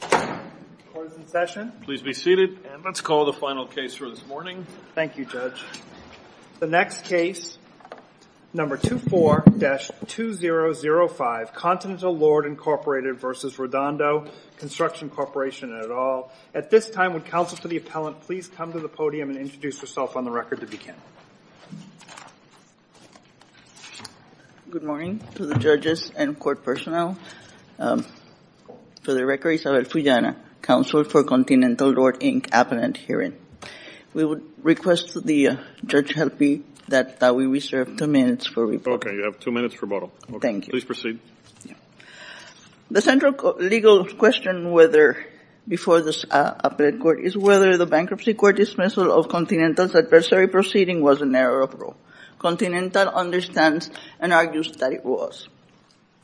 Court is in session. Please be seated and let's call the final case for this morning. Thank you, Judge. The next case, number 24-2005, Continental Lord, Inc. v. Redondo Construction Corporation et al. At this time, would counsel to the appellant please come to the podium and introduce yourself on the record to begin. Good morning to the judges and court personnel. For the record, Isabel Fullana, counsel for Continental Lord, Inc. appellant hearing. We would request the judge help me that we reserve two minutes for rebuttal. Okay, you have two minutes for rebuttal. Thank you. Please proceed. The central legal question before this appellant court is whether the bankruptcy court dismissal of Continental's adversary proceeding was an error of rule. Continental understands and argues that it was.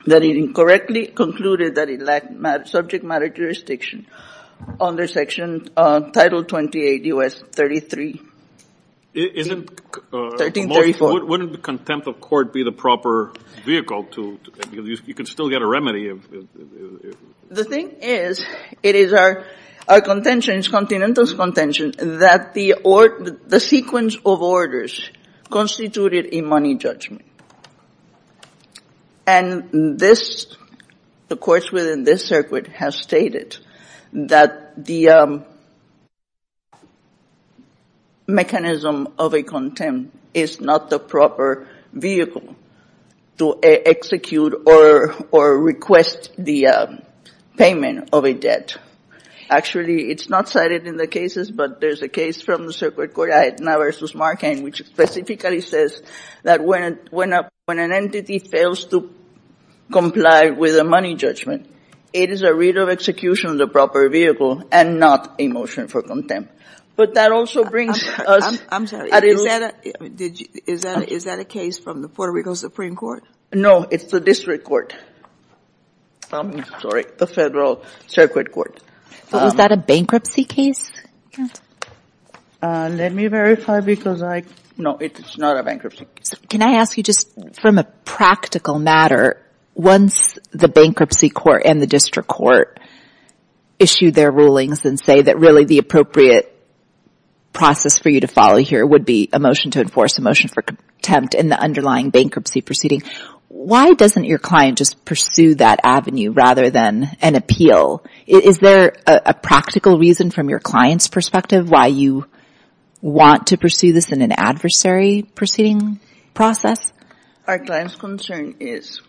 That it incorrectly concluded that it lacked subject matter jurisdiction under Section Title 28 U.S. 33. Wouldn't contempt of court be the proper vehicle? You could still get a remedy. The thing is, it is our contention, Continental's contention, that the sequence of orders constituted a money judgment. And this, the courts within this circuit have stated that the mechanism of a contempt is not the proper vehicle to execute or request the payment of a debt. Actually, it's not cited in the cases, but there's a case from the circuit court, Aetna v. Markheim, which specifically says that when an entity fails to comply with a money judgment, it is a read of execution of the proper vehicle and not a motion for contempt. But that also brings us. I'm sorry, is that a case from the Puerto Rico Supreme Court? No, it's the district court. I'm sorry, the federal circuit court. But was that a bankruptcy case? Let me verify because I, no, it's not a bankruptcy case. Can I ask you just from a practical matter, once the bankruptcy court and the district court issued their rulings and say that really the appropriate process for you to follow here would be a motion to enforce, a motion for contempt in the underlying bankruptcy proceeding, why doesn't your client just pursue that avenue rather than an appeal? Is there a practical reason from your client's perspective why you want to pursue this in an adversary proceeding process? Our client's concern is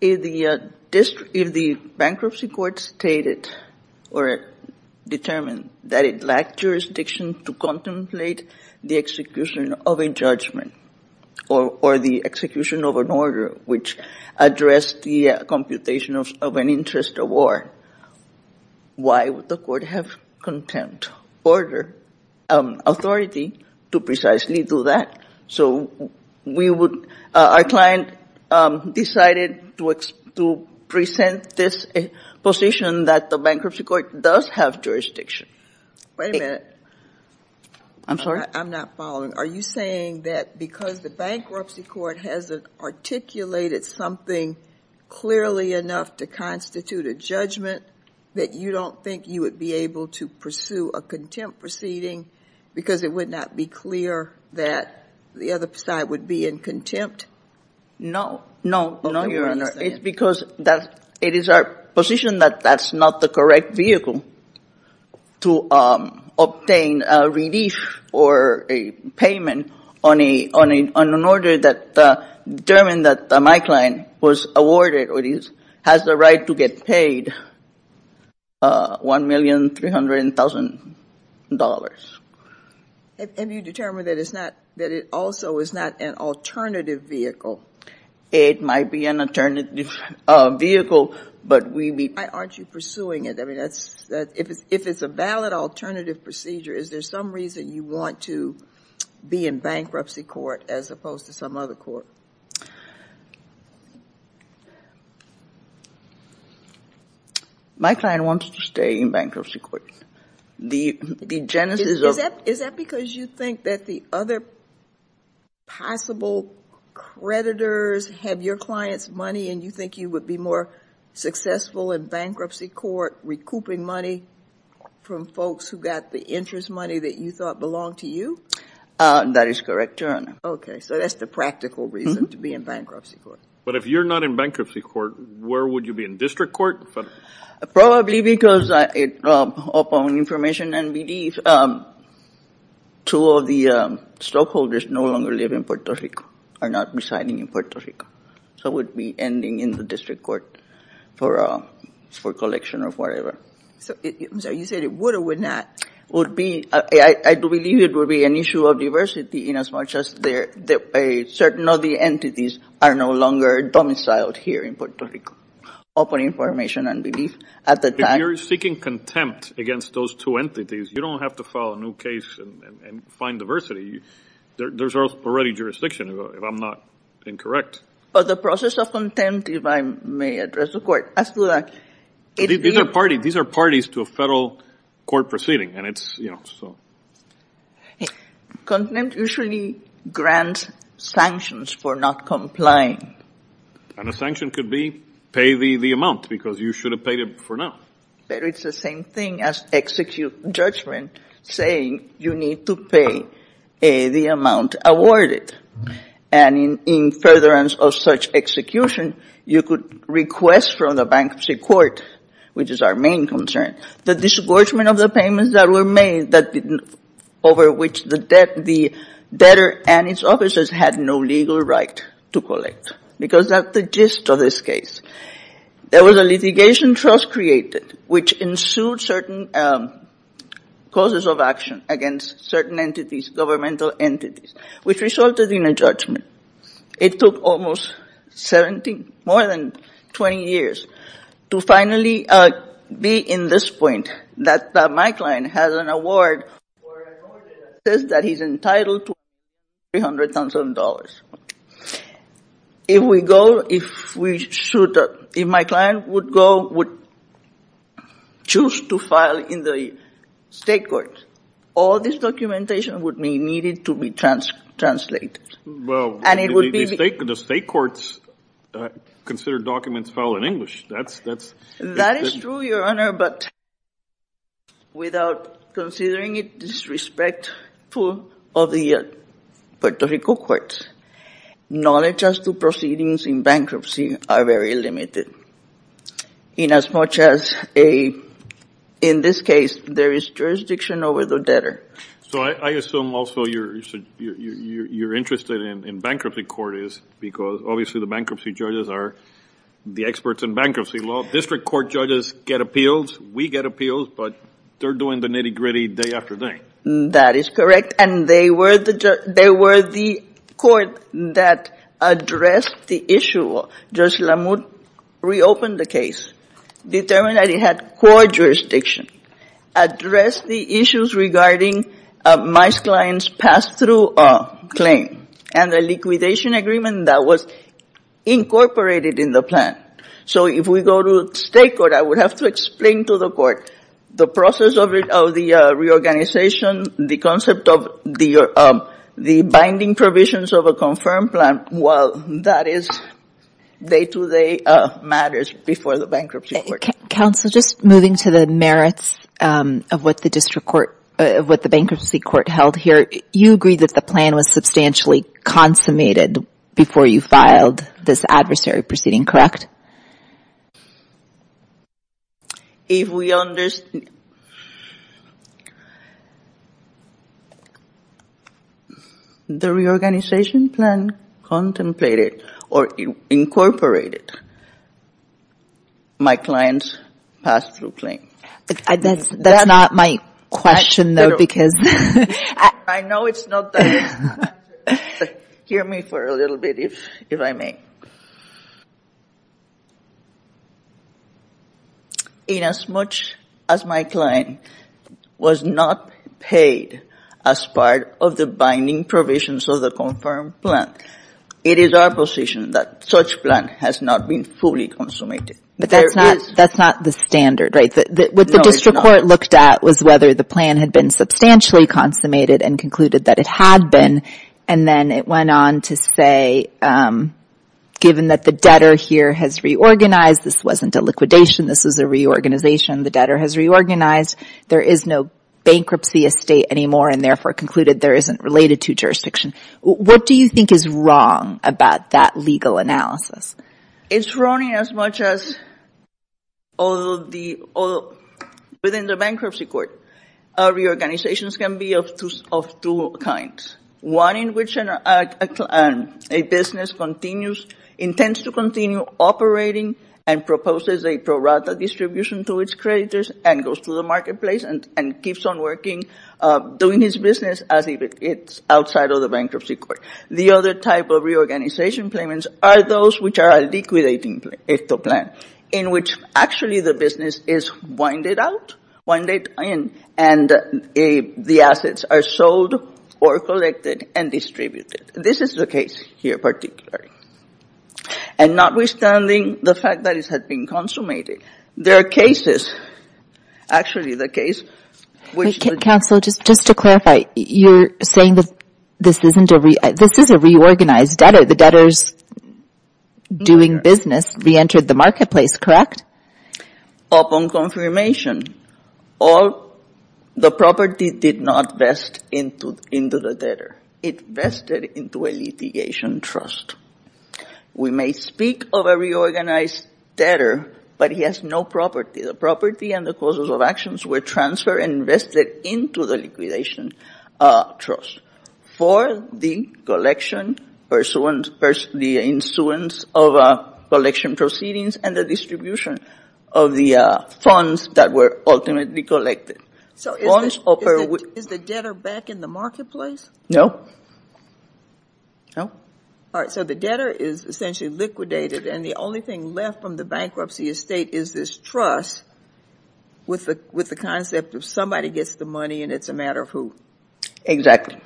if the bankruptcy court stated or determined that it lacked jurisdiction to contemplate the execution of a judgment or the execution of an order which addressed the computation of an interest award, why would the court have contempt order authority to precisely do that? So we would, our client decided to present this position that the bankruptcy court does have jurisdiction. Wait a minute. I'm sorry? I'm not following. Are you saying that because the bankruptcy court hasn't articulated something clearly enough to constitute a judgment that you don't think you would be able to pursue a contempt proceeding because it would not be clear that the other side would be in contempt? No, Your Honor. It's because it is our position that that's not the correct vehicle to obtain a relief or a payment on an order that determined that my client was awarded or has the right to get paid $1,300,000. Have you determined that it also is not an alternative vehicle? It might be an alternative vehicle, but we would Why aren't you pursuing it? I mean, if it's a valid alternative procedure, is there some reason you want to be in bankruptcy court as opposed to some other court? My client wants to stay in bankruptcy court. The genesis of Is that because you think that the other possible creditors have your client's money and you think you would be more successful in bankruptcy court recouping money from folks who got the interest money that you thought belonged to you? That is correct, Your Honor. Okay, so that's the practical reason to be in bankruptcy court. But if you're not in bankruptcy court, where would you be? In district court? Probably because upon information and belief, two of the stockholders no longer live in Puerto Rico or are not residing in Puerto Rico. So it would be ending in the district court for collection or whatever. So you said it would or would not. I believe it would be an issue of diversity in as much as certain of the entities are no longer domiciled here in Puerto Rico. Upon information and belief, at the time If you're seeking contempt against those two entities, you don't have to file a new case and find diversity. There's already jurisdiction, if I'm not incorrect. But the process of contempt, if I may address the court, as to the These are parties to a federal court proceeding, and it's, you know, so Contempt usually grants sanctions for not complying. And a sanction could be pay the amount because you should have paid it for now. But it's the same thing as execute judgment, saying you need to pay the amount awarded. And in furtherance of such execution, you could request from the bankruptcy court, which is our main concern, the disgorgement of the payments that were made over which the debtor and its officers had no legal right to collect. Because that's the gist of this case. There was a litigation trust created, which ensued certain causes of action against certain entities, governmental entities, which resulted in a judgment. It took almost 17, more than 20 years, to finally be in this point, that my client has an award for an order that says that he's entitled to $300,000. If we go, if we should, if my client would go, would choose to file in the state court, all this documentation would be needed to be translated. Well, the state courts consider documents filed in English. That's That is true, Your Honor, but without considering it disrespectful of the Puerto Rico courts. Knowledge as to proceedings in bankruptcy are very limited. In as much as, in this case, there is jurisdiction over the debtor. So I assume also you're interested in bankruptcy court, because obviously the bankruptcy judges are the experts in bankruptcy law. District court judges get appeals. We get appeals, but they're doing the nitty-gritty day after day. That is correct. And they were the court that addressed the issue. Judge Lamour reopened the case, determined that it had core jurisdiction, addressed the issues regarding my client's pass-through claim, and the liquidation agreement that was incorporated in the plan. So if we go to state court, I would have to explain to the court the process of the reorganization, the concept of the binding provisions of a confirmed plan. Well, that is day-to-day matters before the bankruptcy court. Counsel, just moving to the merits of what the bankruptcy court held here, you agree that the plan was substantially consummated before you filed this adversary proceeding, correct? If we understand, the reorganization plan contemplated or incorporated my client's pass-through claim. That's not my question, though, because... I know it's not. Hear me for a little bit, if I may. Inasmuch as my client was not paid as part of the binding provisions of the confirmed plan, it is our position that such plan has not been fully consummated. But that's not the standard, right? No, it's not. What the district court looked at was whether the plan had been substantially consummated and concluded that it had been, and then it went on to say, given that the debtor here has reorganized, this wasn't a liquidation, this was a reorganization, the debtor has reorganized, there is no bankruptcy estate anymore, and therefore concluded there isn't related to jurisdiction. What do you think is wrong about that legal analysis? It's wrong inasmuch as within the bankruptcy court, reorganizations can be of two kinds. One in which a business continues, intends to continue operating and proposes a pro rata distribution to its creditors and goes to the marketplace and keeps on working, doing its business as if it's outside of the bankruptcy court. The other type of reorganization claimants are those which are a liquidating plan, in which actually the business is winded out, winded in, and the assets are sold or collected and distributed. This is the case here particularly. And notwithstanding the fact that it has been consummated, there are cases, actually the case which the- This is a reorganized debtor. The debtor is doing business, reentered the marketplace, correct? Upon confirmation, the property did not vest into the debtor. It vested into a litigation trust. We may speak of a reorganized debtor, but he has no property. The property and the causes of actions were transferred and vested into the liquidation trust for the collection, the insurance of collection proceedings and the distribution of the funds that were ultimately collected. So is the debtor back in the marketplace? No. No? All right, so the debtor is essentially liquidated and the only thing left from the bankruptcy estate is this trust with the concept of somebody gets the money and it's a matter of who. Exactly.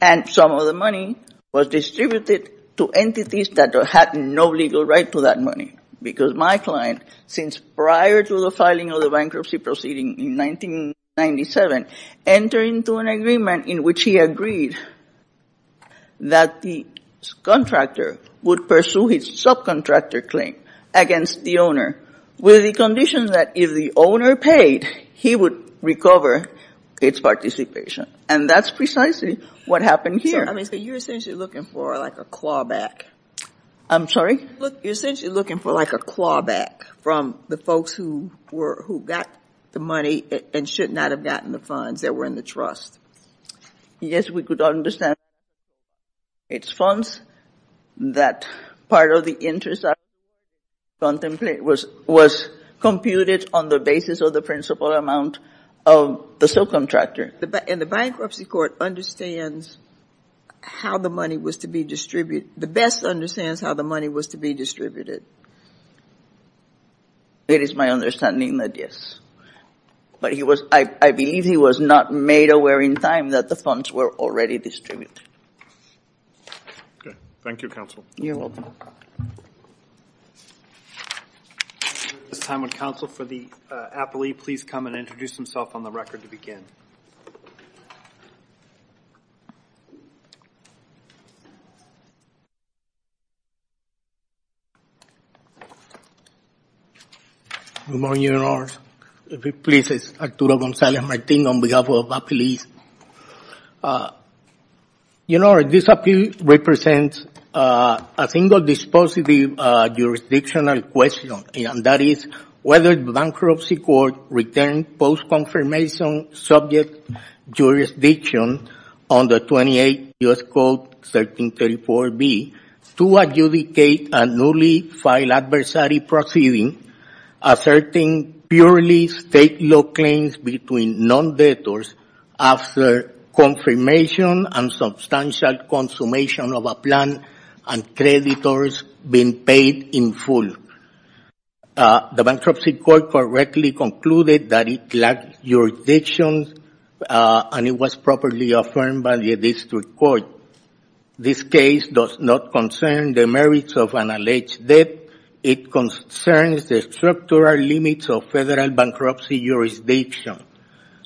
And some of the money was distributed to entities that had no legal right to that money because my client, since prior to the filing of the bankruptcy proceeding in 1997, entered into an agreement in which he agreed that the contractor would pursue his subcontractor claim against the owner with the condition that if the owner paid, he would recover its participation. And that's precisely what happened here. So you're essentially looking for like a clawback. I'm sorry? You're essentially looking for like a clawback from the folks who got the money and should not have gotten the funds that were in the trust. Yes, we could understand that the trust was in its funds, that part of the interest was computed on the basis of the principal amount of the subcontractor. And the bankruptcy court understands how the money was to be distributed. The best understands how the money was to be distributed. It is my understanding that yes. But I believe he was not made aware in time that the funds were already distributed. Thank you, counsel. You're welcome. At this time, would counsel for the appellee please come and introduce himself on the record to begin? Good morning, Your Honor. Please, it's Arturo Gonzalez-Martin on behalf of the police. Your Honor, this appeal represents a single dispositive jurisdictional question, and that is whether the bankruptcy court returns post-confirmation subject jurisdiction under 28 U.S. Code 1334B to adjudicate a newly filed adversary proceeding asserting purely state law claims between non-debtors after confirmation and substantial consummation of a plan and creditors being paid in full. The bankruptcy court correctly concluded that it lacked jurisdiction and it was properly affirmed by the district court. This case does not concern the merits of an alleged debt. It concerns the structural limits of federal bankruptcy jurisdiction.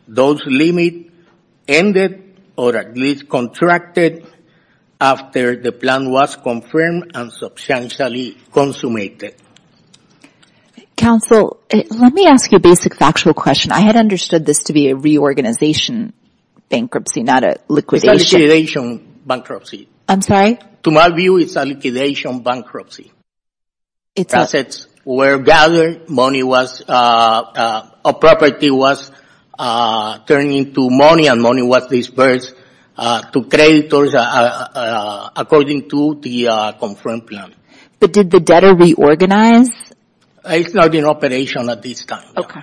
Those limits ended or at least contracted after the plan was confirmed and substantially consummated. Counsel, let me ask you a basic factual question. I had understood this to be a reorganization bankruptcy, not a liquidation. It's a liquidation bankruptcy. I'm sorry? To my view, it's a liquidation bankruptcy. Assets were gathered, money was, a property was turned into money and money was disbursed to creditors according to the confirmed plan. But did the debtor reorganize? It's not in operation at this time. Okay.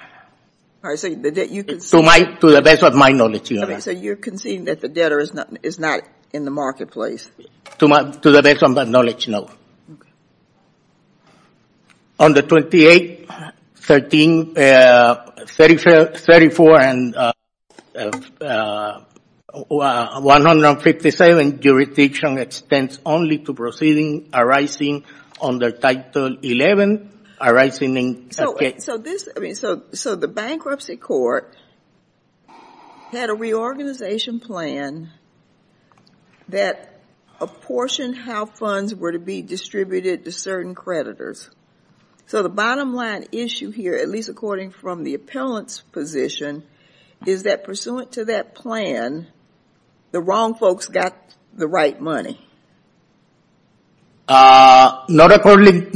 To the best of my knowledge, Your Honor. So you're conceding that the debtor is not in the marketplace? To the best of my knowledge, no. Okay. On the 28, 13, 34, and 157, jurisdiction extends only to proceeding arising under Title 11, arising in- So the bankruptcy court had a reorganization plan that apportioned how funds were to be distributed to certain creditors. So the bottom line issue here, at least according from the appellant's position, is that pursuant to that plan, the wrong folks got the right money. Not according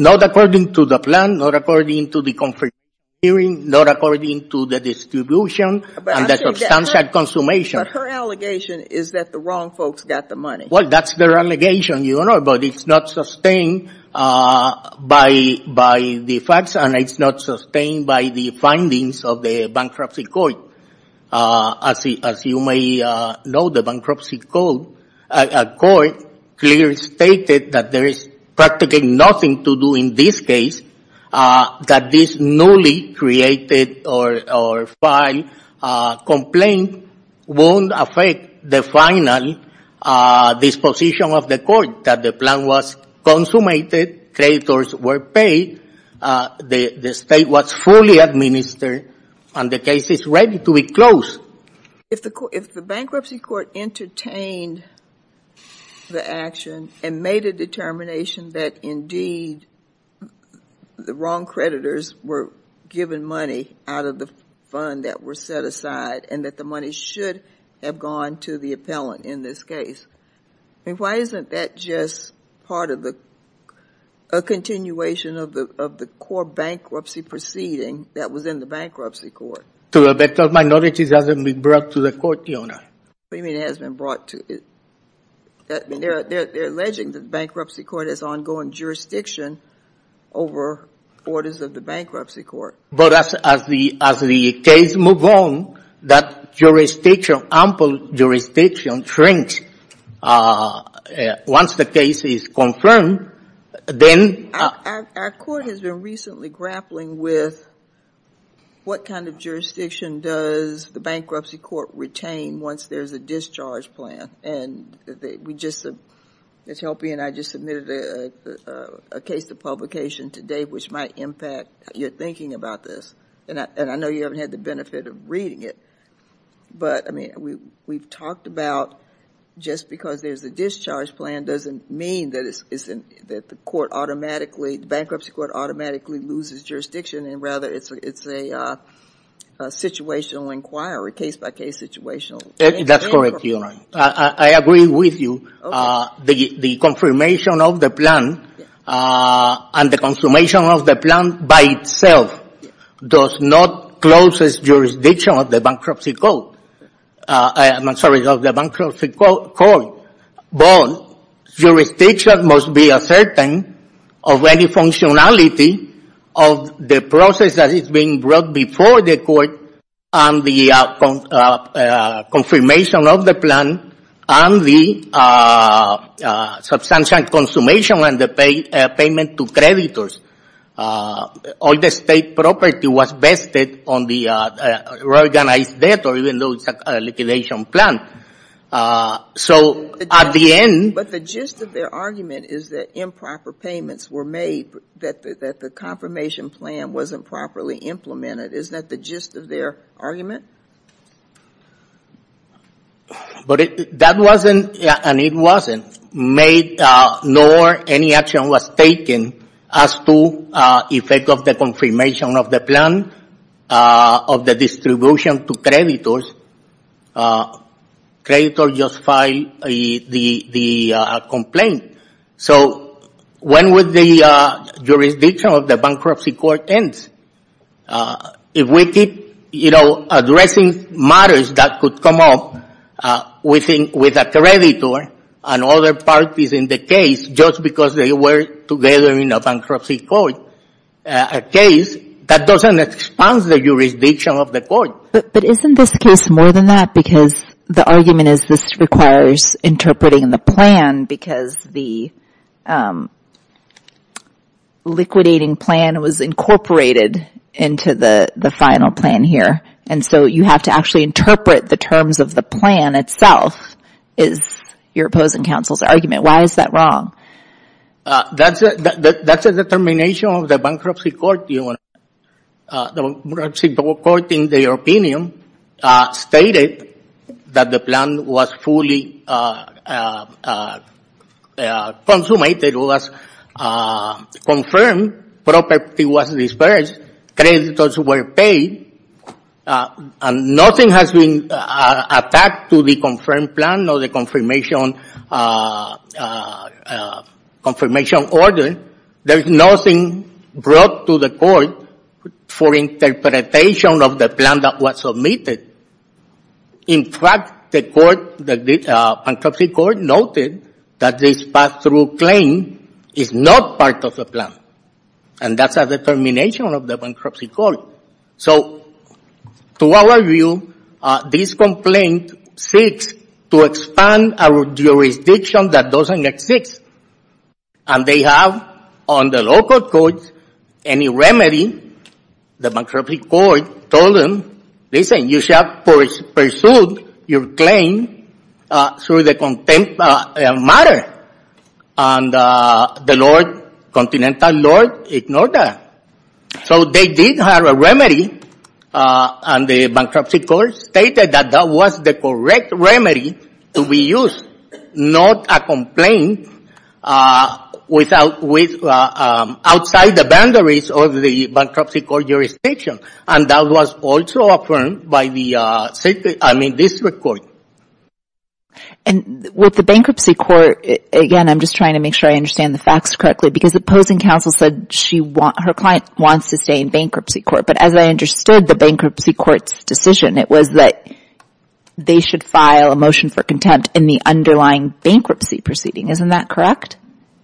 to the plan, not according to the confirmation hearing, not according to the distribution and the substantial consummation. But her allegation is that the wrong folks got the money. Well, that's their allegation, Your Honor, but it's not sustained by the facts and it's not sustained by the findings of the bankruptcy court. As you may know, the bankruptcy court clearly stated that there is practically nothing to do in this case, that this newly created or filed complaint won't affect the final disposition of the court, that the plan was consummated, creditors were paid, the state was fully administered, and the case is ready to be closed. If the bankruptcy court entertained the action and made a determination that indeed the wrong creditors were given money out of the fund that were set aside and that the money should have gone to the appellant in this case, why isn't that just part of a continuation of the core bankruptcy proceeding that was in the bankruptcy court? To a better of my knowledge, it hasn't been brought to the court, Your Honor. What do you mean it hasn't been brought to the court? They're alleging that the bankruptcy court has ongoing jurisdiction over orders of the bankruptcy court. But as the case moves on, that ample jurisdiction shrinks. Once the case is confirmed, then... Our court has been recently grappling with what kind of jurisdiction does the bankruptcy court retain once there's a discharge plan. Ms. Helpy and I just submitted a case to publication today which might impact your thinking about this. I know you haven't had the benefit of reading it, but we've talked about just because there's a discharge plan doesn't mean that the bankruptcy court automatically loses jurisdiction and rather it's a situational inquiry, case-by-case situational inquiry. That's correct, Your Honor. I agree with you. The confirmation of the plan and the confirmation of the plan by itself does not close its jurisdiction of the bankruptcy court. I'm sorry, of the bankruptcy court. But jurisdiction must be ascertained of any functionality of the process that is being brought before the court and the confirmation of the plan and the substantial consummation and the payment to creditors. All the state property was vested on the reorganized debt or even though it's a liquidation plan. So at the end... But the gist of their argument is that improper payments were made, that the confirmation plan wasn't properly implemented. Isn't that the gist of their argument? But that wasn't, and it wasn't made, nor any action was taken as to effect of the confirmation of the plan of the distribution to creditors. Creditors just filed the complaint. So when would the jurisdiction of the bankruptcy court end? If we keep, you know, addressing matters that could come up with a creditor and other parties in the case just because they were together in a bankruptcy court, a case that doesn't expand the jurisdiction of the court. But isn't this case more than that? Because the argument is this requires interpreting the plan because the liquidating plan was incorporated into the final plan here. And so you have to actually interpret the terms of the plan itself is your opposing counsel's argument. Why is that wrong? That's a determination of the bankruptcy court. The bankruptcy court, in their opinion, stated that the plan was fully consummated, was confirmed, property was disbursed, creditors were paid, and nothing has been attacked to the confirmed plan or the confirmation order. There's nothing brought to the court for interpretation of the plan that was submitted. In fact, the bankruptcy court noted that this pass-through claim is not part of the plan. And that's a determination of the bankruptcy court. So to our view, this complaint seeks to expand our jurisdiction that doesn't exist. And they have on the local court any remedy. The bankruptcy court told them, listen, you shall pursue your claim through the content matter. And the Lord, Continental Lord, ignored that. So they did have a remedy, and the bankruptcy court stated that that was the correct remedy to be used, not a complaint outside the boundaries of the bankruptcy court jurisdiction. And that was also affirmed by the district court. And with the bankruptcy court, again, I'm just trying to make sure I understand the facts correctly, because the opposing counsel said her client wants to stay in bankruptcy court. But as I understood the bankruptcy court's decision, it was that they should file a motion for contempt in the underlying bankruptcy proceeding. Isn't that correct?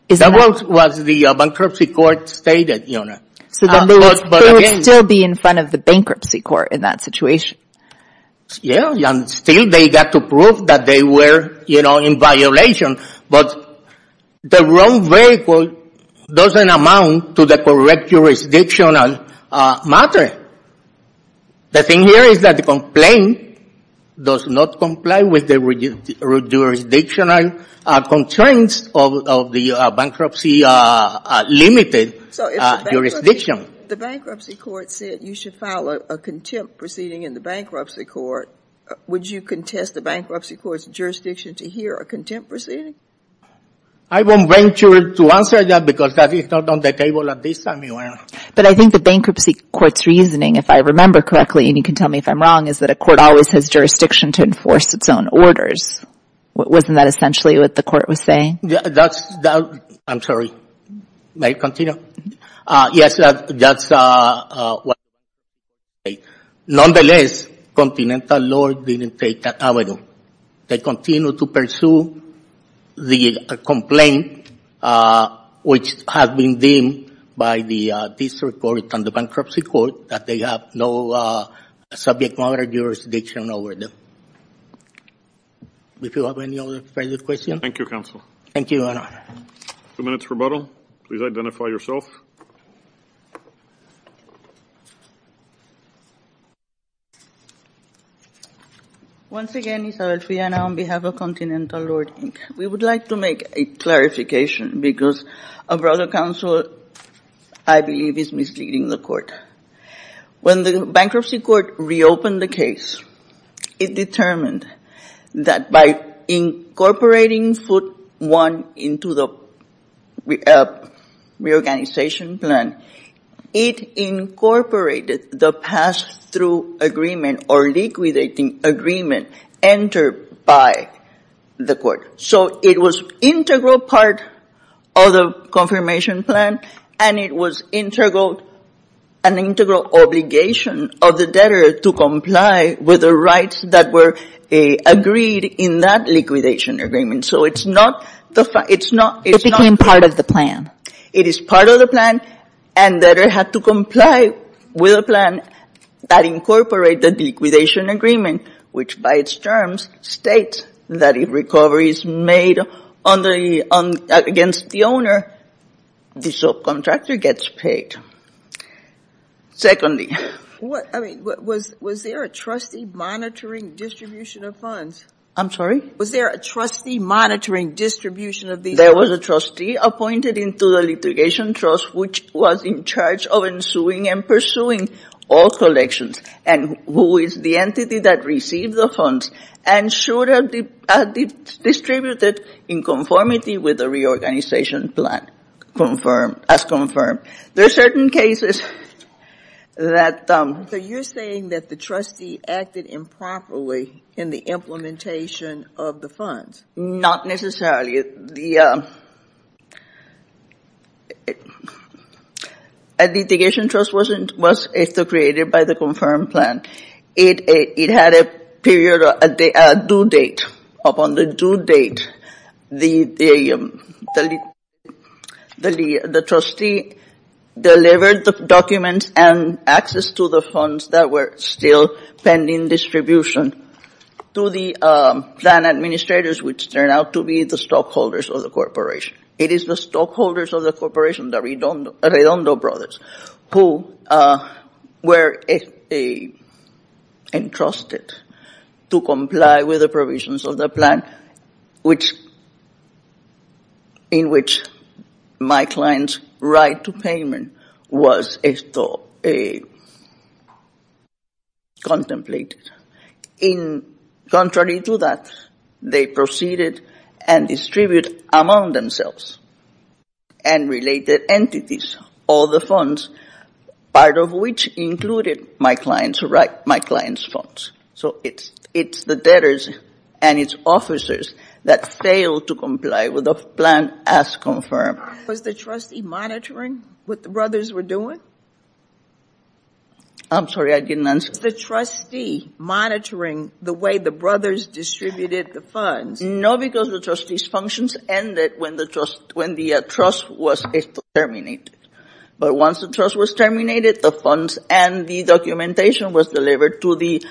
That was what the bankruptcy court stated. So they would still be in front of the bankruptcy court in that situation. Yeah, and still they got to prove that they were in violation. But the wrong vehicle doesn't amount to the correct jurisdictional matter. The thing here is that the complaint does not comply with the jurisdictional constraints of the bankruptcy limited jurisdiction. So if the bankruptcy court said you should file a contempt proceeding in the bankruptcy court, would you contest the bankruptcy court's jurisdiction to hear a contempt proceeding? I won't venture to answer that because that is not on the table at this time, Your Honor. But I think the bankruptcy court's reasoning, if I remember correctly, and you can tell me if I'm wrong, is that a court always has jurisdiction to enforce its own orders. Wasn't that essentially what the court was saying? I'm sorry. May I continue? Yes, that's what the bankruptcy court said. Nonetheless, Continental Law didn't take that avenue. They continue to pursue the complaint which has been deemed by the district court and the bankruptcy court that they have no subject matter jurisdiction over them. Do you have any other further questions? Thank you, counsel. Thank you, Your Honor. Two minutes rebuttal. Please identify yourself. Once again, Isabel Friana on behalf of Continental Law. We would like to make a clarification because a brother counsel I believe is misleading the court. When the bankruptcy court reopened the case, it determined that by incorporating foot one into the reorganization plan, it incorporated the pass-through agreement or liquidating agreement entered by the court. So it was integral part of the confirmation plan, and it was an integral obligation of the debtor to comply with the rights that were agreed in that liquidation agreement. So it's not the fine. It became part of the plan. It is part of the plan, and debtor had to comply with a plan that incorporated the liquidation agreement, which by its terms states that if recovery is made against the owner, the subcontractor gets paid. Was there a trustee monitoring distribution of funds? I'm sorry? Was there a trustee monitoring distribution of the funds? There was a trustee appointed into the litigation trust, which was in charge of ensuing and pursuing all collections, and who is the entity that received the funds and should have distributed in conformity with the reorganization plan as confirmed. There are certain cases that... So you're saying that the trustee acted improperly in the implementation of the funds? Not necessarily. The litigation trust was created by the confirmed plan. It had a due date. Upon the due date, the trustee delivered the documents and access to the funds that were still pending distribution to the plan administrators, which turned out to be the stockholders of the corporation. It is the stockholders of the corporation, the Redondo brothers, who were entrusted to comply with the provisions of the plan, in which my client's right to payment was contemplated. Contrary to that, they proceeded and distributed among themselves and related entities all the funds, part of which included my client's funds. So it's the debtors and its officers that failed to comply with the plan as confirmed. Was the trustee monitoring what the brothers were doing? I'm sorry, I didn't answer. Was the trustee monitoring the way the brothers distributed the funds? No, because the trustee's functions ended when the trust was terminated. But once the trust was terminated, the funds and the documentation was delivered to the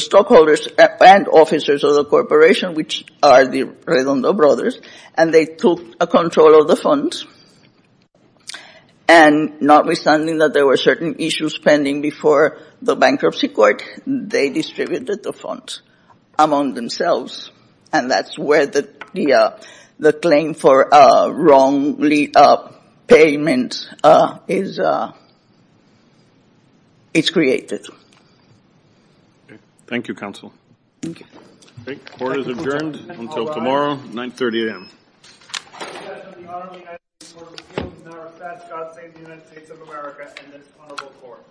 stockholders and officers of the corporation, which are the Redondo brothers, and they took control of the funds. And notwithstanding that there were certain issues pending before the bankruptcy court, they distributed the funds among themselves, and that's where the claim for wrongly payment is created. Thank you, Counsel. Thank you. Court is adjourned until tomorrow, 930 a.m. God save the United States of America and this honorable court.